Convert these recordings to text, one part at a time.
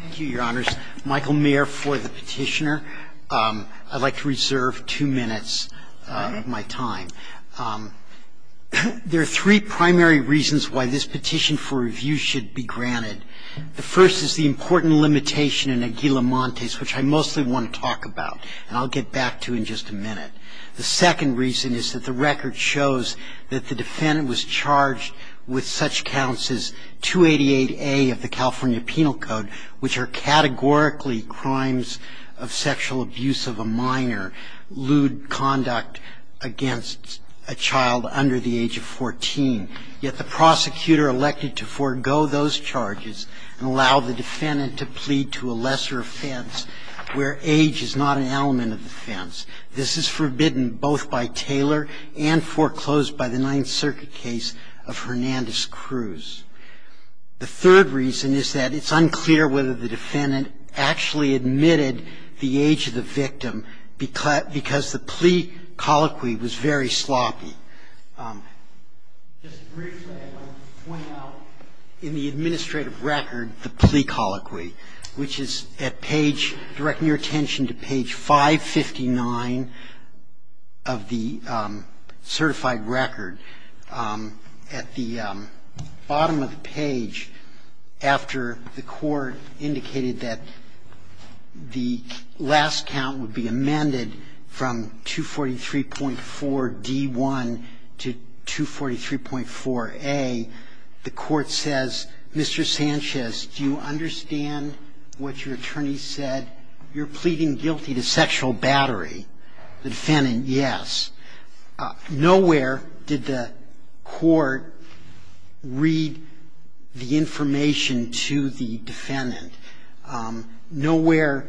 Thank you, your honors. Michael Mayer for the petitioner. I'd like to reserve two minutes of my time. There are three primary reasons why this petition for review should be granted. The first is the important limitation in Aguilamontes, which I mostly want to talk about, and I'll get back to in just a minute. The second reason is that the record shows that the defendant was charged with such counts as 288A of the California Penal Code, which are categorically crimes of sexual abuse of a minor, lewd conduct against a child under the age of 14. Yet the prosecutor elected to forego those charges and allow the defendant to plead to a lesser offense where age is not an element of defense. This is forbidden both by Taylor and foreclosed by the Ninth Circuit case of Hernandez-Cruz. The third reason is that it's unclear whether the defendant actually admitted the age of the victim because the plea colloquy was very sloppy. Just briefly I want to point out in the administrative record the plea colloquy, which is at page ‑‑ directing your attention to page 559 of the certified record. At the bottom of the page, after the court indicated that the last count would be amended from 243.4D1, to 243.4A, the court says, Mr. Sanchez, do you understand what your attorney said? You're pleading guilty to sexual battery. The defendant, yes. Nowhere did the court read the information to the defendant. Nowhere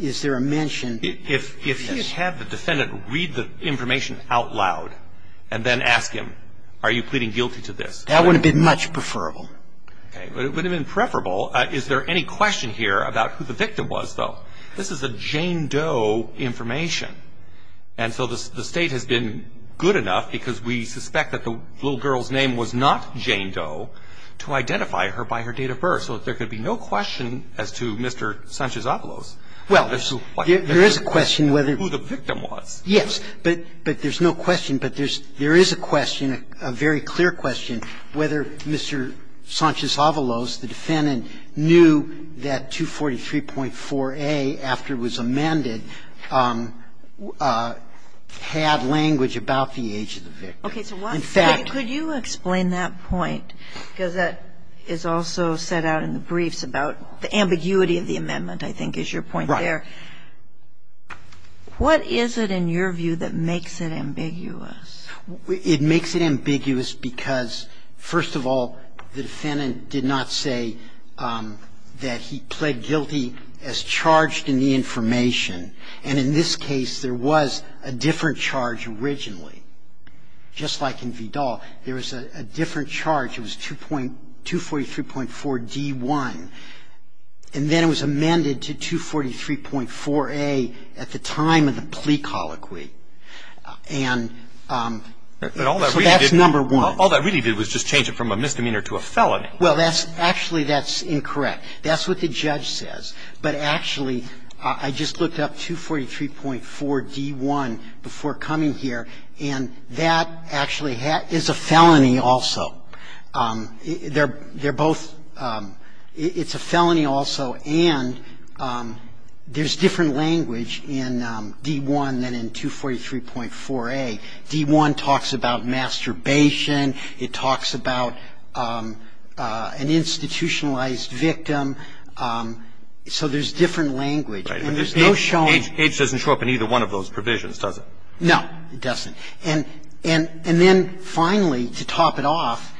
is there a mention. If he had had the defendant read the information out loud and then ask him, are you pleading guilty to this? That wouldn't have been much preferable. Okay. It wouldn't have been preferable. Is there any question here about who the victim was, though? This is a Jane Doe information. And so the State has been good enough, because we suspect that the little girl's name was not Jane Doe, to identify her by her date of birth. So there could be no question as to Mr. Sanchez-Avalos. Well, there is a question whether the victim was. Yes. But there's no question. But there is a question, a very clear question, whether Mr. Sanchez-Avalos, the defendant, knew that 243.4A, after it was amended, had language about the age of the victim. In fact. Could you explain that point? Because that is also set out in the briefs about the ambiguity of the amendment, I think is your point there. Right. What is it, in your view, that makes it ambiguous? It makes it ambiguous because, first of all, the defendant did not say that he pled guilty as charged in the information. And in this case, there was a different charge originally. Just like in Vidal, there was a different charge. It was 243.4D1. And then it was amended to 243.4A at the time of the plea colloquy. And so that's number one. But all that really did was just change it from a misdemeanor to a felony. Well, that's actually that's incorrect. That's what the judge says. But actually, I just looked up 243.4D1 before coming here, and that actually is a felony also. It's a felony also, and there's different language in D1 than in 243.4A. D1 talks about masturbation. It talks about an institutionalized victim. So there's different language, and there's no showing. H doesn't show up in either one of those provisions, does it? No, it doesn't. And then finally, to top it off,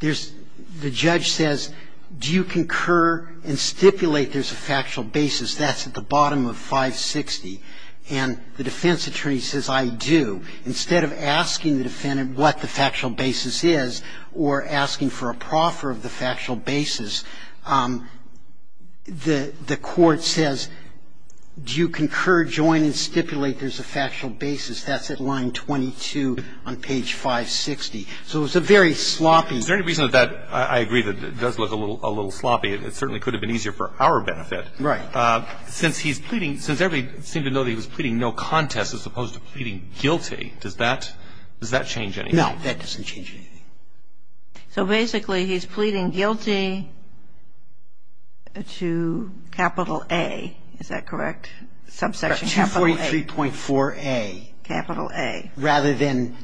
there's the judge says, do you concur and stipulate there's a factual basis? That's at the bottom of 560. And the defense attorney says, I do. Instead of asking the defendant what the factual basis is or asking for a proffer of the factual basis, the court says, do you concur, join, and stipulate there's a factual basis? That's at line 22 on page 560. So it's a very sloppy. Is there any reason that I agree that it does look a little sloppy? It certainly could have been easier for our benefit. Right. Since he's pleading, since everybody seemed to know that he was pleading no contest as opposed to pleading guilty, does that change anything? No, that doesn't change anything. So basically, he's pleading guilty to capital A. Is that correct? So he's pleading guilty to capital A, not to that subsection. Right. 243.4A. Capital A. Rather than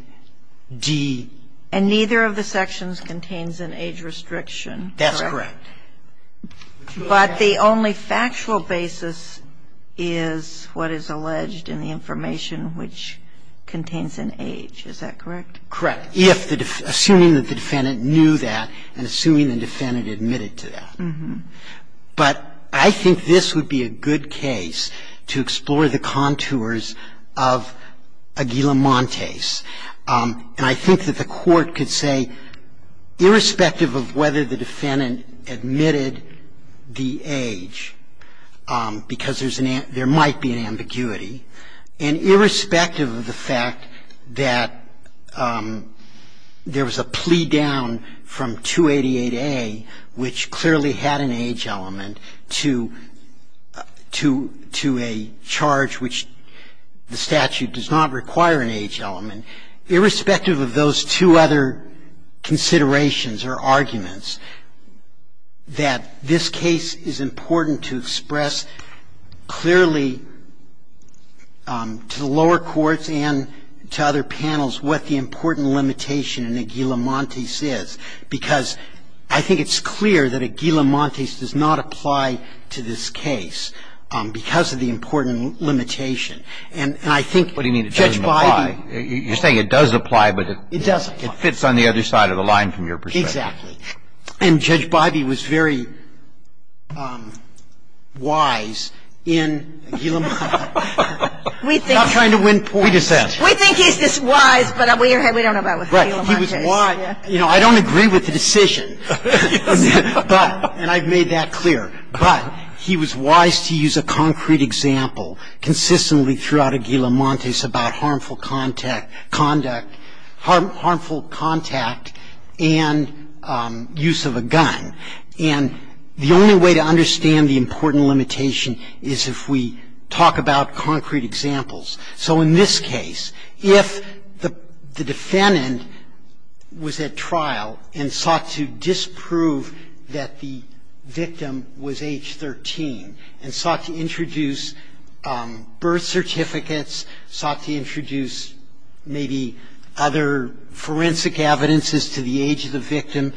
D. And neither of the sections contains an age restriction, correct? That's correct. But the only factual basis is what is alleged in the information, which contains an age, is that correct? Correct. Assuming that the defendant knew that and assuming the defendant admitted to that. But I think this would be a good case to explore the contours of Aguilamontes. And I think that the Court could say, irrespective of whether the defendant admitted the age, because there might be an ambiguity, and irrespective of the fact that there was a plea down from 288A, which clearly had an age element, to a charge which the statute does not require an age element, irrespective of those two other considerations or arguments, that this case is important to express clearly to the lower courts and to other panels what the important limitation in Aguilamontes is, because I think it's clear that Aguilamontes does not apply to this case because of the important limitation. And I think, Judge Bidey. What do you mean it doesn't apply? You're saying it does apply, but it fits on the other side of the line. It fits on the other side of the line from your perspective. Exactly. And Judge Bidey was very wise in Aguilamontes. I'm not trying to win points. We think he's just wise, but we don't know about Aguilamontes. Right. He was wise. You know, I don't agree with the decision. Yes. But, and I've made that clear. But he was wise to use a concrete example consistently throughout Aguilamontes about harmful contact, conduct, harmful contact and use of a gun. And the only way to understand the important limitation is if we talk about concrete examples. So in this case, if the defendant was at trial and sought to disprove that the victim was age 13 and sought to introduce birth certificates, sought to introduce maybe other forensic evidences to the age of the victim,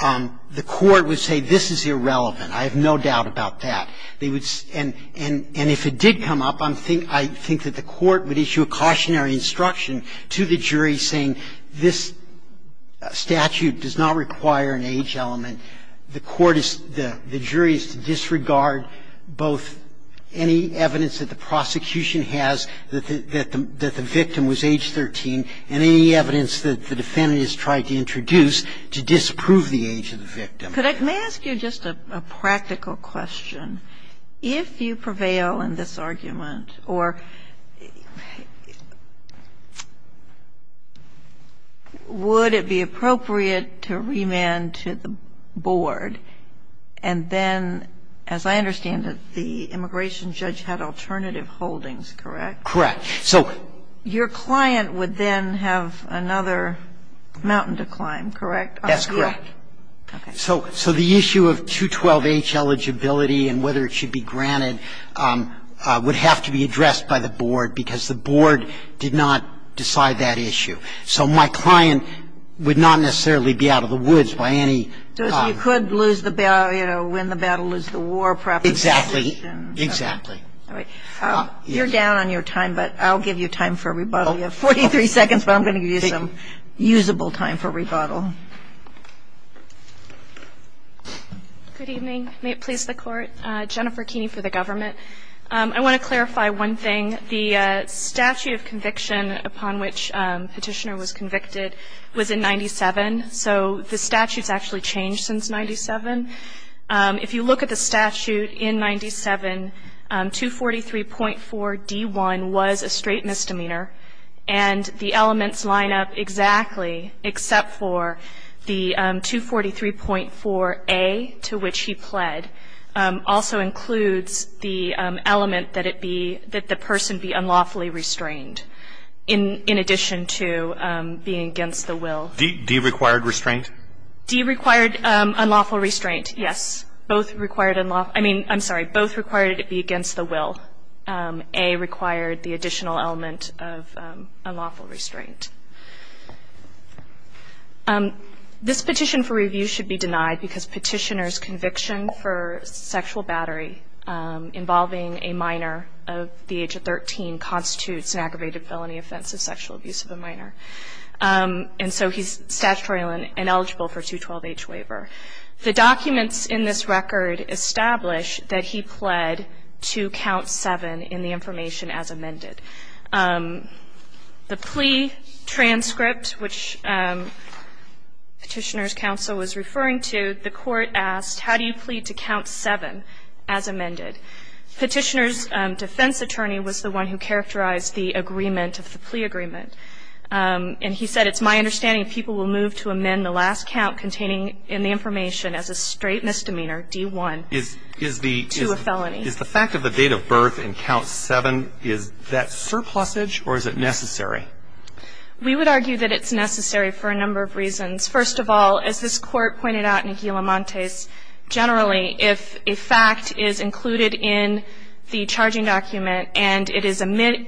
the court would say this is irrelevant. I have no doubt about that. And if it did come up, I think that the court would issue a cautionary instruction to the jury saying this statute does not require an age element. And the court is, the jury is to disregard both any evidence that the prosecution has that the victim was age 13 and any evidence that the defendant has tried to introduce to disprove the age of the victim. May I ask you just a practical question? If you prevail in this argument, or would it be appropriate to remand to the board and then, as I understand it, the immigration judge had alternative holdings, correct? Correct. So your client would then have another mountain to climb, correct? That's correct. Okay. So the issue of 212H eligibility and whether it should be granted would have to be addressed by the board, because the board did not decide that issue. So my client would not necessarily be out of the woods by any ---- So you could lose the battle, you know, win the battle, lose the war proposition. Exactly. Exactly. All right. You're down on your time, but I'll give you time for rebuttal. You have 43 seconds, but I'm going to give you some usable time for rebuttal. Good evening. May it please the Court. Jennifer Keeney for the government. I want to clarify one thing. The statute of conviction upon which Petitioner was convicted was in 97, so the statute's actually changed since 97. If you look at the statute in 97, 243.4D1 was a straight misdemeanor, and the elements line up exactly, except for the 243.4A, to which he pled, also includes the element that it be, that the person be unlawfully restrained, in addition to being against the will. D required restraint? D required unlawful restraint, yes. Both required, I mean, I'm sorry, both required it be against the will. A required the additional element of unlawful restraint. This petition for review should be denied, because Petitioner's conviction for sexual battery involving a minor of the age of 13 constitutes an aggravated felony offense of sexual abuse of a minor, and so he's statutorily ineligible for a 212H waiver. The documents in this record establish that he pled to count 7 in the information as amended. The plea transcript, which Petitioner's counsel was referring to, the court asked, how do you plead to count 7 as amended? Petitioner's defense attorney was the one who characterized the agreement of the plea agreement, and he said, And it's my understanding people will move to amend the last count containing in the information as a straight misdemeanor, D1, to a felony. Is the fact of the date of birth in count 7, is that surplusage or is it necessary? We would argue that it's necessary for a number of reasons. First of all, as this Court pointed out in Aguila Montes, generally, if a fact is included in the charging document and it is admitted,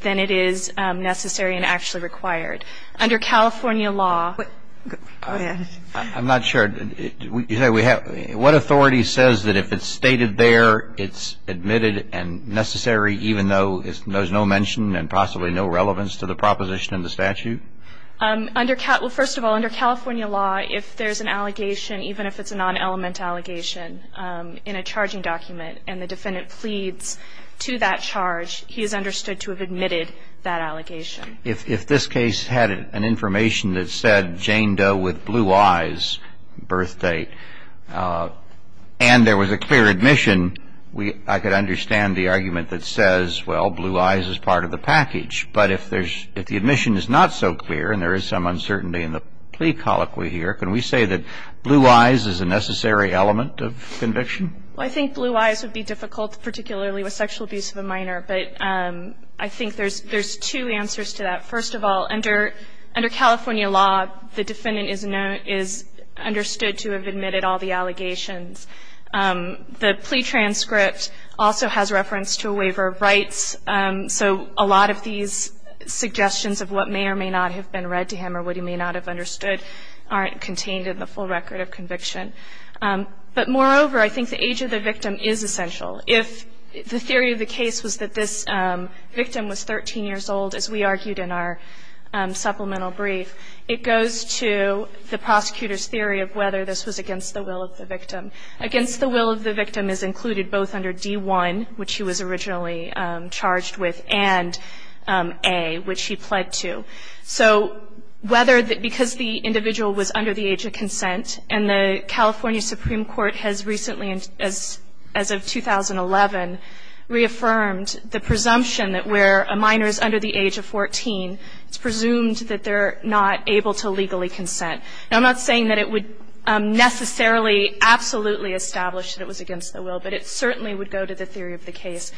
then it is necessary and actually required. Under California law --- Go ahead. I'm not sure. What authority says that if it's stated there, it's admitted and necessary, even though there's no mention and possibly no relevance to the proposition in the statute? First of all, under California law, if there's an allegation, even if it's a non-element allegation in a charging document, and the defendant pleads to that charge, he is understood to have admitted that allegation. If this case had an information that said Jane Doe with blue eyes, birth date, and there was a clear admission, I could understand the argument that says, well, blue eyes is part of the package. But if the admission is not so clear and there is some uncertainty in the plea colloquy here, can we say that blue eyes is a necessary element of conviction? Well, I think blue eyes would be difficult, particularly with sexual abuse of a minor. But I think there's two answers to that. First of all, under California law, the defendant is understood to have admitted all the allegations. The plea transcript also has reference to a waiver of rights. So a lot of these suggestions of what may or may not have been read to him or what he may not have understood aren't contained in the full record of conviction. But moreover, I think the age of the victim is essential. If the theory of the case was that this victim was 13 years old, as we argued in our supplemental brief, it goes to the prosecutor's theory of whether this was against the will of the victim. Against the will of the victim is included both under D-1, which he was originally charged with, and A, which he pled to. So whether the – because the individual was under the age of consent and the California Supreme Court has recently, as of 2011, reaffirmed the presumption that where a minor is under the age of 14, it's presumed that they're not able to legally consent. Now, I'm not saying that it would necessarily absolutely establish that it was against the will, but it certainly would go to the theory of the case.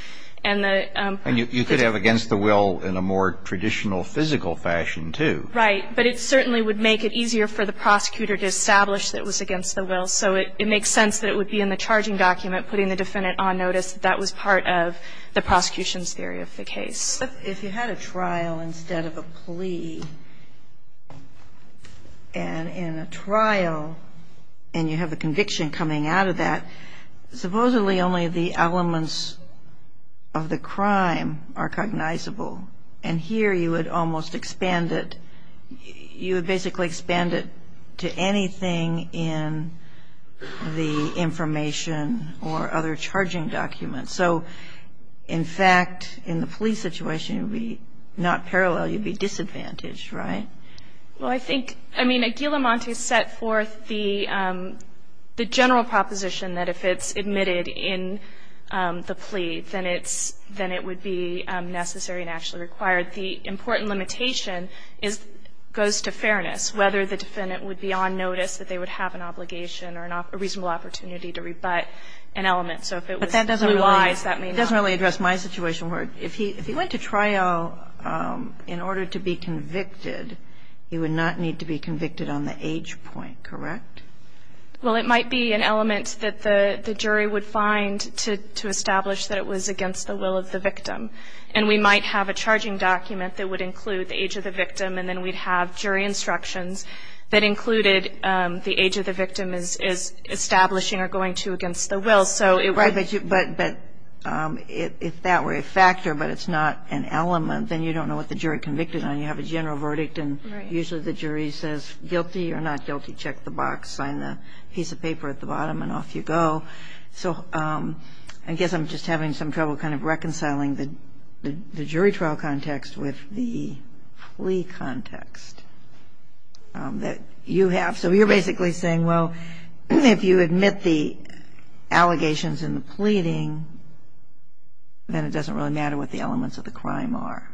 And the – And you could have against the will in a more traditional physical fashion, too. Right. But it certainly would make it easier for the prosecutor to establish that it was against the will. So it makes sense that it would be in the charging document, putting the defendant on notice that that was part of the prosecution's theory of the case. But if you had a trial instead of a plea, and in a trial, and you have a conviction coming out of that, supposedly only the elements of the crime are cognizable. And here, you would almost expand it – you would basically expand it to anything in the information or other charging documents. So, in fact, in the plea situation, it would be not parallel. You'd be disadvantaged, right? Well, I think – I mean, Aguilamonte set forth the general proposition that if it's admitted in the plea, then it's – then it would be necessary and actually required. The important limitation is – goes to fairness, whether the defendant would be on notice that they would have an obligation or a reasonable opportunity to rebut an element. So if it was two lies, that may not be. But that doesn't really address my situation, where if he went to trial in order to be convicted, he would not need to be convicted on the age point, correct? Well, it might be an element that the jury would find to establish that it was against the will of the victim. And we might have a charging document that would include the age of the victim, and then we'd have jury instructions that included the age of the victim is establishing or going to against the will. So it would – Right. But if that were a factor, but it's not an element, then you don't know what the charge would be. You have a general verdict, and usually the jury says guilty or not guilty, check the box, sign the piece of paper at the bottom, and off you go. So I guess I'm just having some trouble kind of reconciling the jury trial context with the plea context that you have. So you're basically saying, well, if you admit the allegations in the pleading, then it doesn't really matter what the elements of the crime are.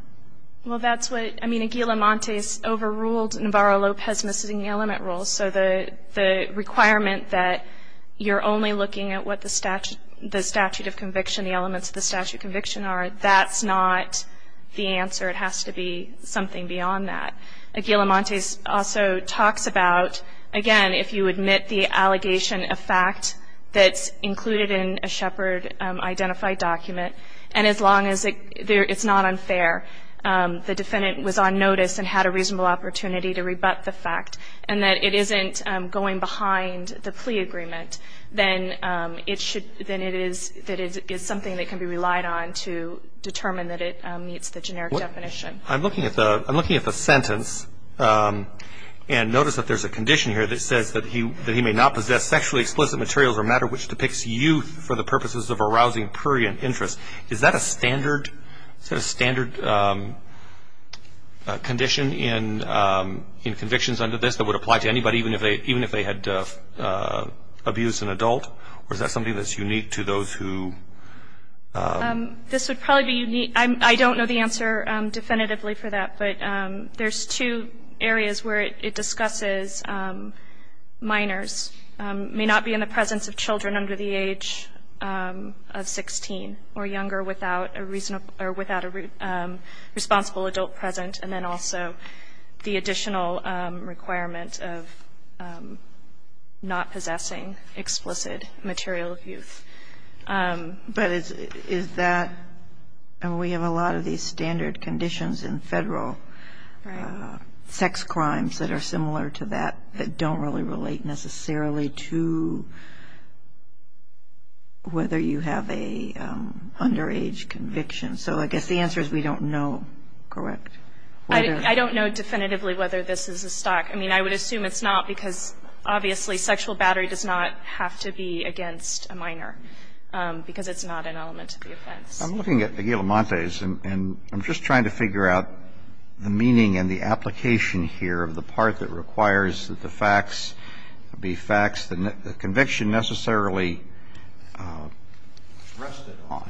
Well, that's what – I mean, Aguilamontes overruled Navarro-Lopez missing element rules. So the requirement that you're only looking at what the statute of conviction, the elements of the statute of conviction are, that's not the answer. It has to be something beyond that. Aguilamontes also talks about, again, if you admit the allegation of fact that's included in a Shepard-identified document, and as long as it's not unfair. The defendant was on notice and had a reasonable opportunity to rebut the fact, and that it isn't going behind the plea agreement, then it should – then it is – that it is something that can be relied on to determine that it meets the generic definition. I'm looking at the – I'm looking at the sentence, and notice that there's a condition here that says that he – that he may not possess sexually explicit materials or matter which depicts youth for the purposes of arousing prurient interest. Is that a standard – is that a standard condition in convictions under this that would apply to anybody, even if they – even if they had abused an adult? Or is that something that's unique to those who – This would probably be unique – I don't know the answer definitively for that, but there's two areas where it discusses minors. Minors may not be in the presence of children under the age of 16 or younger without a reasonable – or without a responsible adult present, and then also the additional requirement of not possessing explicit material of youth. But is that – and we have a lot of these standard conditions in Federal sex crimes that are similar to that, that don't really relate necessarily to whether you have a underage conviction. So I guess the answer is we don't know, correct? I don't know definitively whether this is a stock. I mean, I would assume it's not, because obviously sexual battery does not have to be against a minor, because it's not an element of the offense. I'm looking at the guillemontes, and I'm just trying to figure out the meaning and the application here of the part that requires that the facts be facts the conviction necessarily rested on.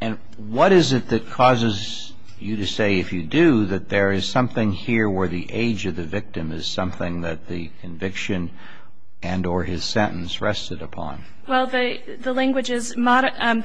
And what is it that causes you to say, if you do, that there is something here where the age of the victim is something that the conviction and or his sentence rested upon? Well, the language is – the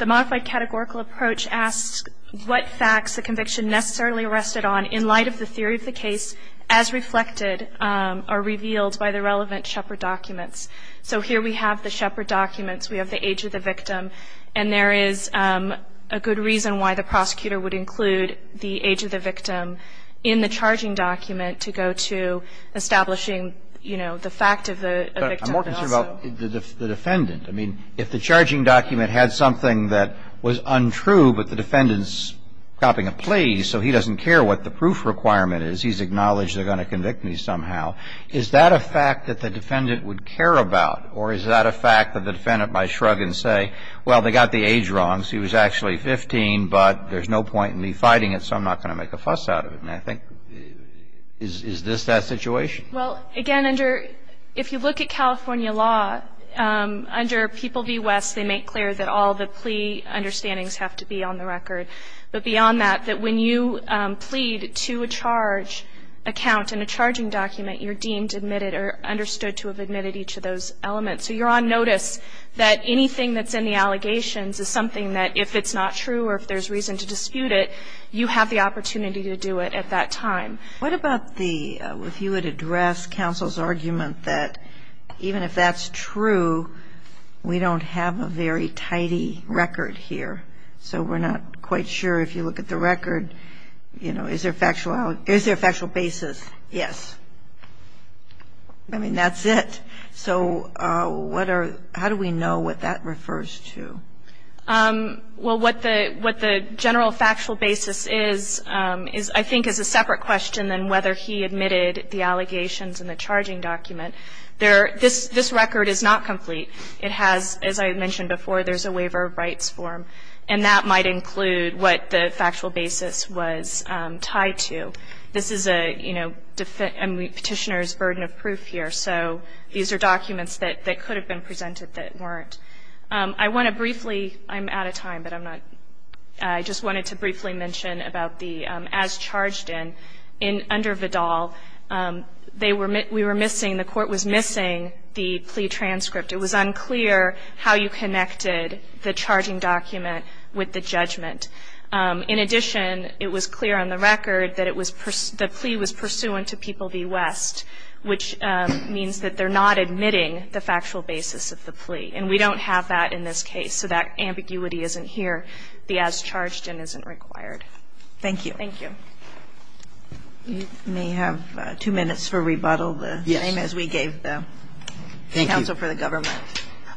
modified categorical approach asks what facts the conviction necessarily rested on in light of the theory of the case as reflected or revealed by the relevant Shepard documents. So here we have the Shepard documents. We have the age of the victim. And there is a good reason why the prosecutor would include the age of the victim in the charging document to go to establishing, you know, the fact of the victim. But I'm more concerned about the defendant. I mean, if the charging document had something that was untrue, but the defendant is copying a plea, so he doesn't care what the proof requirement is. He's acknowledged they're going to convict me somehow. Is that a fact that the defendant would care about, or is that a fact that the defendant might shrug and say, well, they got the age wrong, so he was actually 15, but there's no point in me fighting it, so I'm not going to make a fuss out of it? And I think – is this that situation? Well, again, under – if you look at California law, under People v. West, they make clear that all the plea understandings have to be on the record. But beyond that, that when you plead to a charge account in a charging document, you're deemed admitted or understood to have admitted each of those elements. So you're on notice that anything that's in the allegations is something that, if it's not true or if there's reason to dispute it, you have the opportunity to do it at that time. What about the – if you would address counsel's argument that even if that's true, we don't have a very tidy record here. So we're not quite sure if you look at the record, you know, is there factual – is there a factual basis? Yes. I mean, that's it. So what are – how do we know what that refers to? Well, what the – what the general factual basis is, I think, is a separate question than whether he admitted the allegations in the charging document. There – this record is not complete. It has – as I mentioned before, there's a waiver of rights form, and that might include what the factual basis was tied to. This is a, you know, petitioner's burden of proof here. So these are documents that could have been presented that weren't. I want to briefly – I'm out of time, but I'm not – I just wanted to briefly mention about the – as charged in, under Vidal, they were – we were missing – the court was missing the plea transcript. It was unclear how you connected the charging document with the judgment. In addition, it was clear on the record that it was – the plea was pursuant to People v. West, which means that they're not admitting the factual basis of the plea. And we don't have that in this case. So that ambiguity isn't here. The as charged in isn't required. Thank you. Thank you. You may have two minutes for rebuttal. The same as we gave the counsel for the government.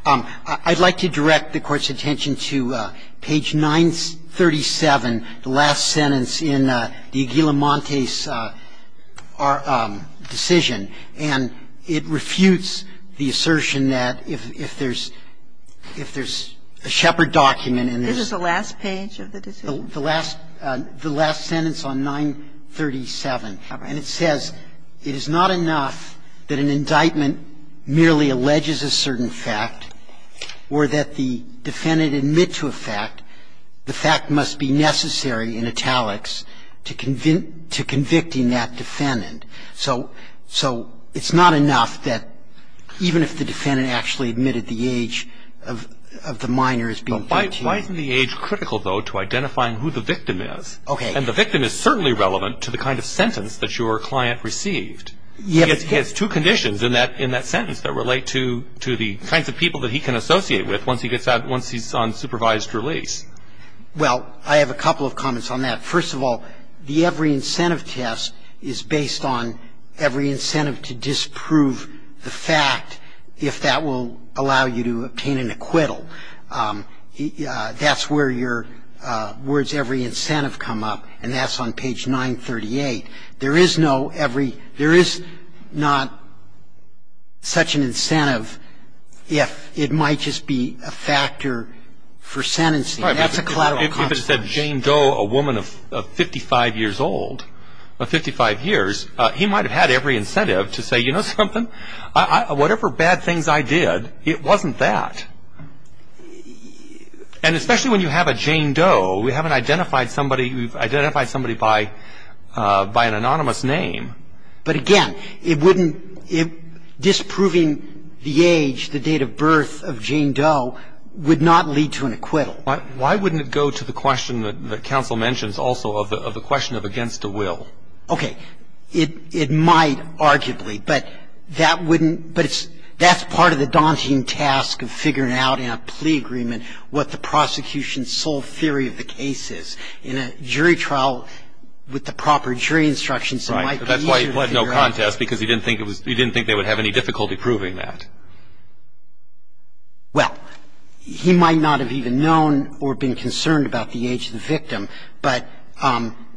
Thank you. I'd like to direct the Court's attention to page 937, the last sentence in the Aguila-Montes decision. And it refutes the assertion that if there's – if there's a Shepard document in this. This is the last page of the decision? The last – the last sentence on 937. And it says it is not enough that an indictment merely alleges a certain fact or that the defendant admit to a fact. The fact must be necessary in italics to convict – to convicting that defendant. So – so it's not enough that even if the defendant actually admitted the age of the minor as being 13. Why isn't the age critical, though, to identifying who the victim is? Okay. And the victim is certainly relevant to the kind of sentence that your client received. Yes. He has two conditions in that – in that sentence that relate to – to the kinds of people that he can associate with once he gets out – once he's on supervised release. Well, I have a couple of comments on that. First of all, the every incentive test is based on every incentive to disprove the fact if that will allow you to obtain an acquittal. That's where your words every incentive come up. And that's on page 938. There is no every – there is not such an incentive if it might just be a factor for sentencing. That's a collateral consequence. If it said Jane Doe, a woman of 55 years old, of 55 years, he might have had every incentive to say, you know something, whatever bad things I did, it wasn't that. And especially when you have a Jane Doe, we haven't identified somebody. We've identified somebody by an anonymous name. But again, it wouldn't – disproving the age, the date of birth of Jane Doe would not lead to an acquittal. Why wouldn't it go to the question that counsel mentions also of the question of against a will? Okay. It might, arguably. But that wouldn't – but it's – that's part of the daunting task of figuring out in a plea agreement what the prosecution's sole theory of the case is. In a jury trial with the proper jury instructions, it might be easier to figure out. Right. But that's why he had no contest because he didn't think it was – he didn't think they would have any difficulty proving that. Well, he might not have even known or been concerned about the age of the victim. But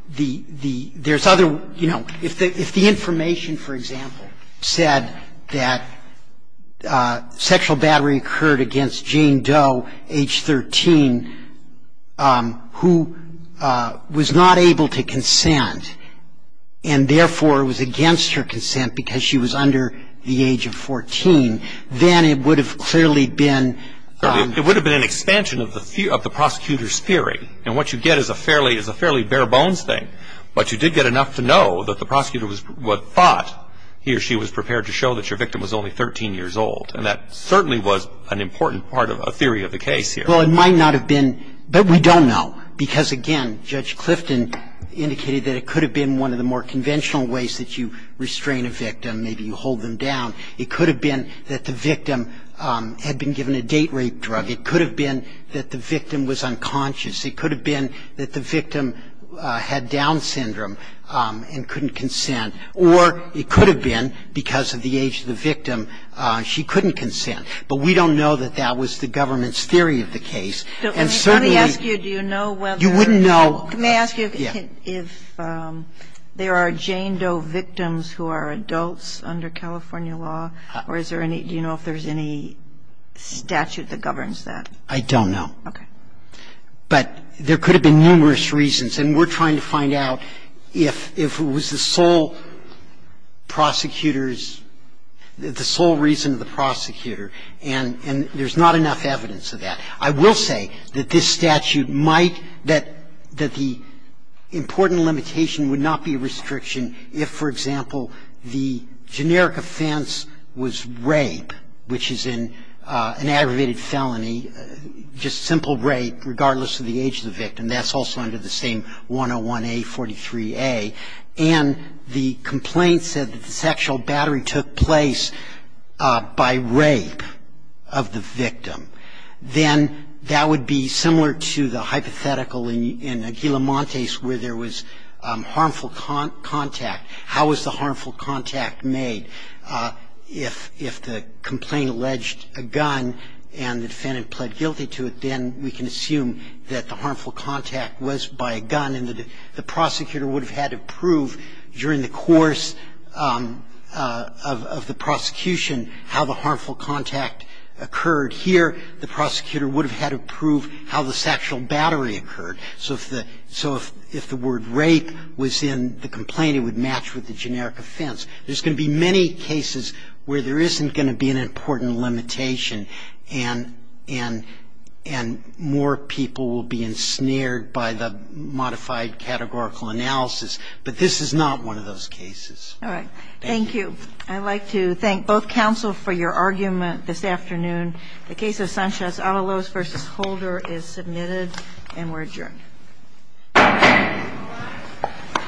the – there's other – you know, if the information, for example, said that sexual battery occurred against Jane Doe, age 13, who was not able to consent, and therefore was against her consent because she was under the age of 14, then it would have clearly been – It would have been an expansion of the prosecutor's theory. And what you get is a fairly bare-bones thing. But you did get enough to know that the prosecutor was – thought he or she was prepared to show that your victim was only 13 years old. And that certainly was an important part of a theory of the case here. Well, it might not have been, but we don't know. Because, again, Judge Clifton indicated that it could have been one of the more conventional ways that you restrain a victim, maybe you hold them down. It could have been that the victim had been given a date rape drug. It could have been that the victim was unconscious. It could have been that the victim had Down syndrome and couldn't consent. Or it could have been, because of the age of the victim, she couldn't consent. But we don't know that that was the government's theory of the case. And certainly – Let me ask you, do you know whether – You wouldn't know – Let me ask you if there are Jane Doe victims who are adults under California law, or is there any – do you know if there's any statute that governs that? I don't know. Okay. But there could have been numerous reasons. And we're trying to find out if it was the sole prosecutor's – the sole reason of the prosecutor. And there's not enough evidence of that. I will say that this statute might – that the important limitation would not be a restriction if, for example, the generic offense was rape, which is an aggravated felony, just simple rape regardless of the age of the victim. That's also under the same 101A, 43A. And the complaint said that the sexual battery took place by rape of the victim. Then that would be similar to the hypothetical in Aguila Montes where there was harmful contact. How was the harmful contact made? If the complaint alleged a gun and the defendant pled guilty to it, then we can assume that the harmful contact was by a gun and that the prosecutor would have had to prove during the course of the prosecution how the harmful contact occurred here. The prosecutor would have had to prove how the sexual battery occurred. So if the word rape was in the complaint, it would match with the generic offense. There's going to be many cases where there isn't going to be an important limitation and more people will be ensnared by the modified categorical analysis. But this is not one of those cases. All right. Thank you. I'd like to thank both counsel for your argument this afternoon. The case of Sanchez-Avalos v. Holder is submitted and we're adjourned. Thank you.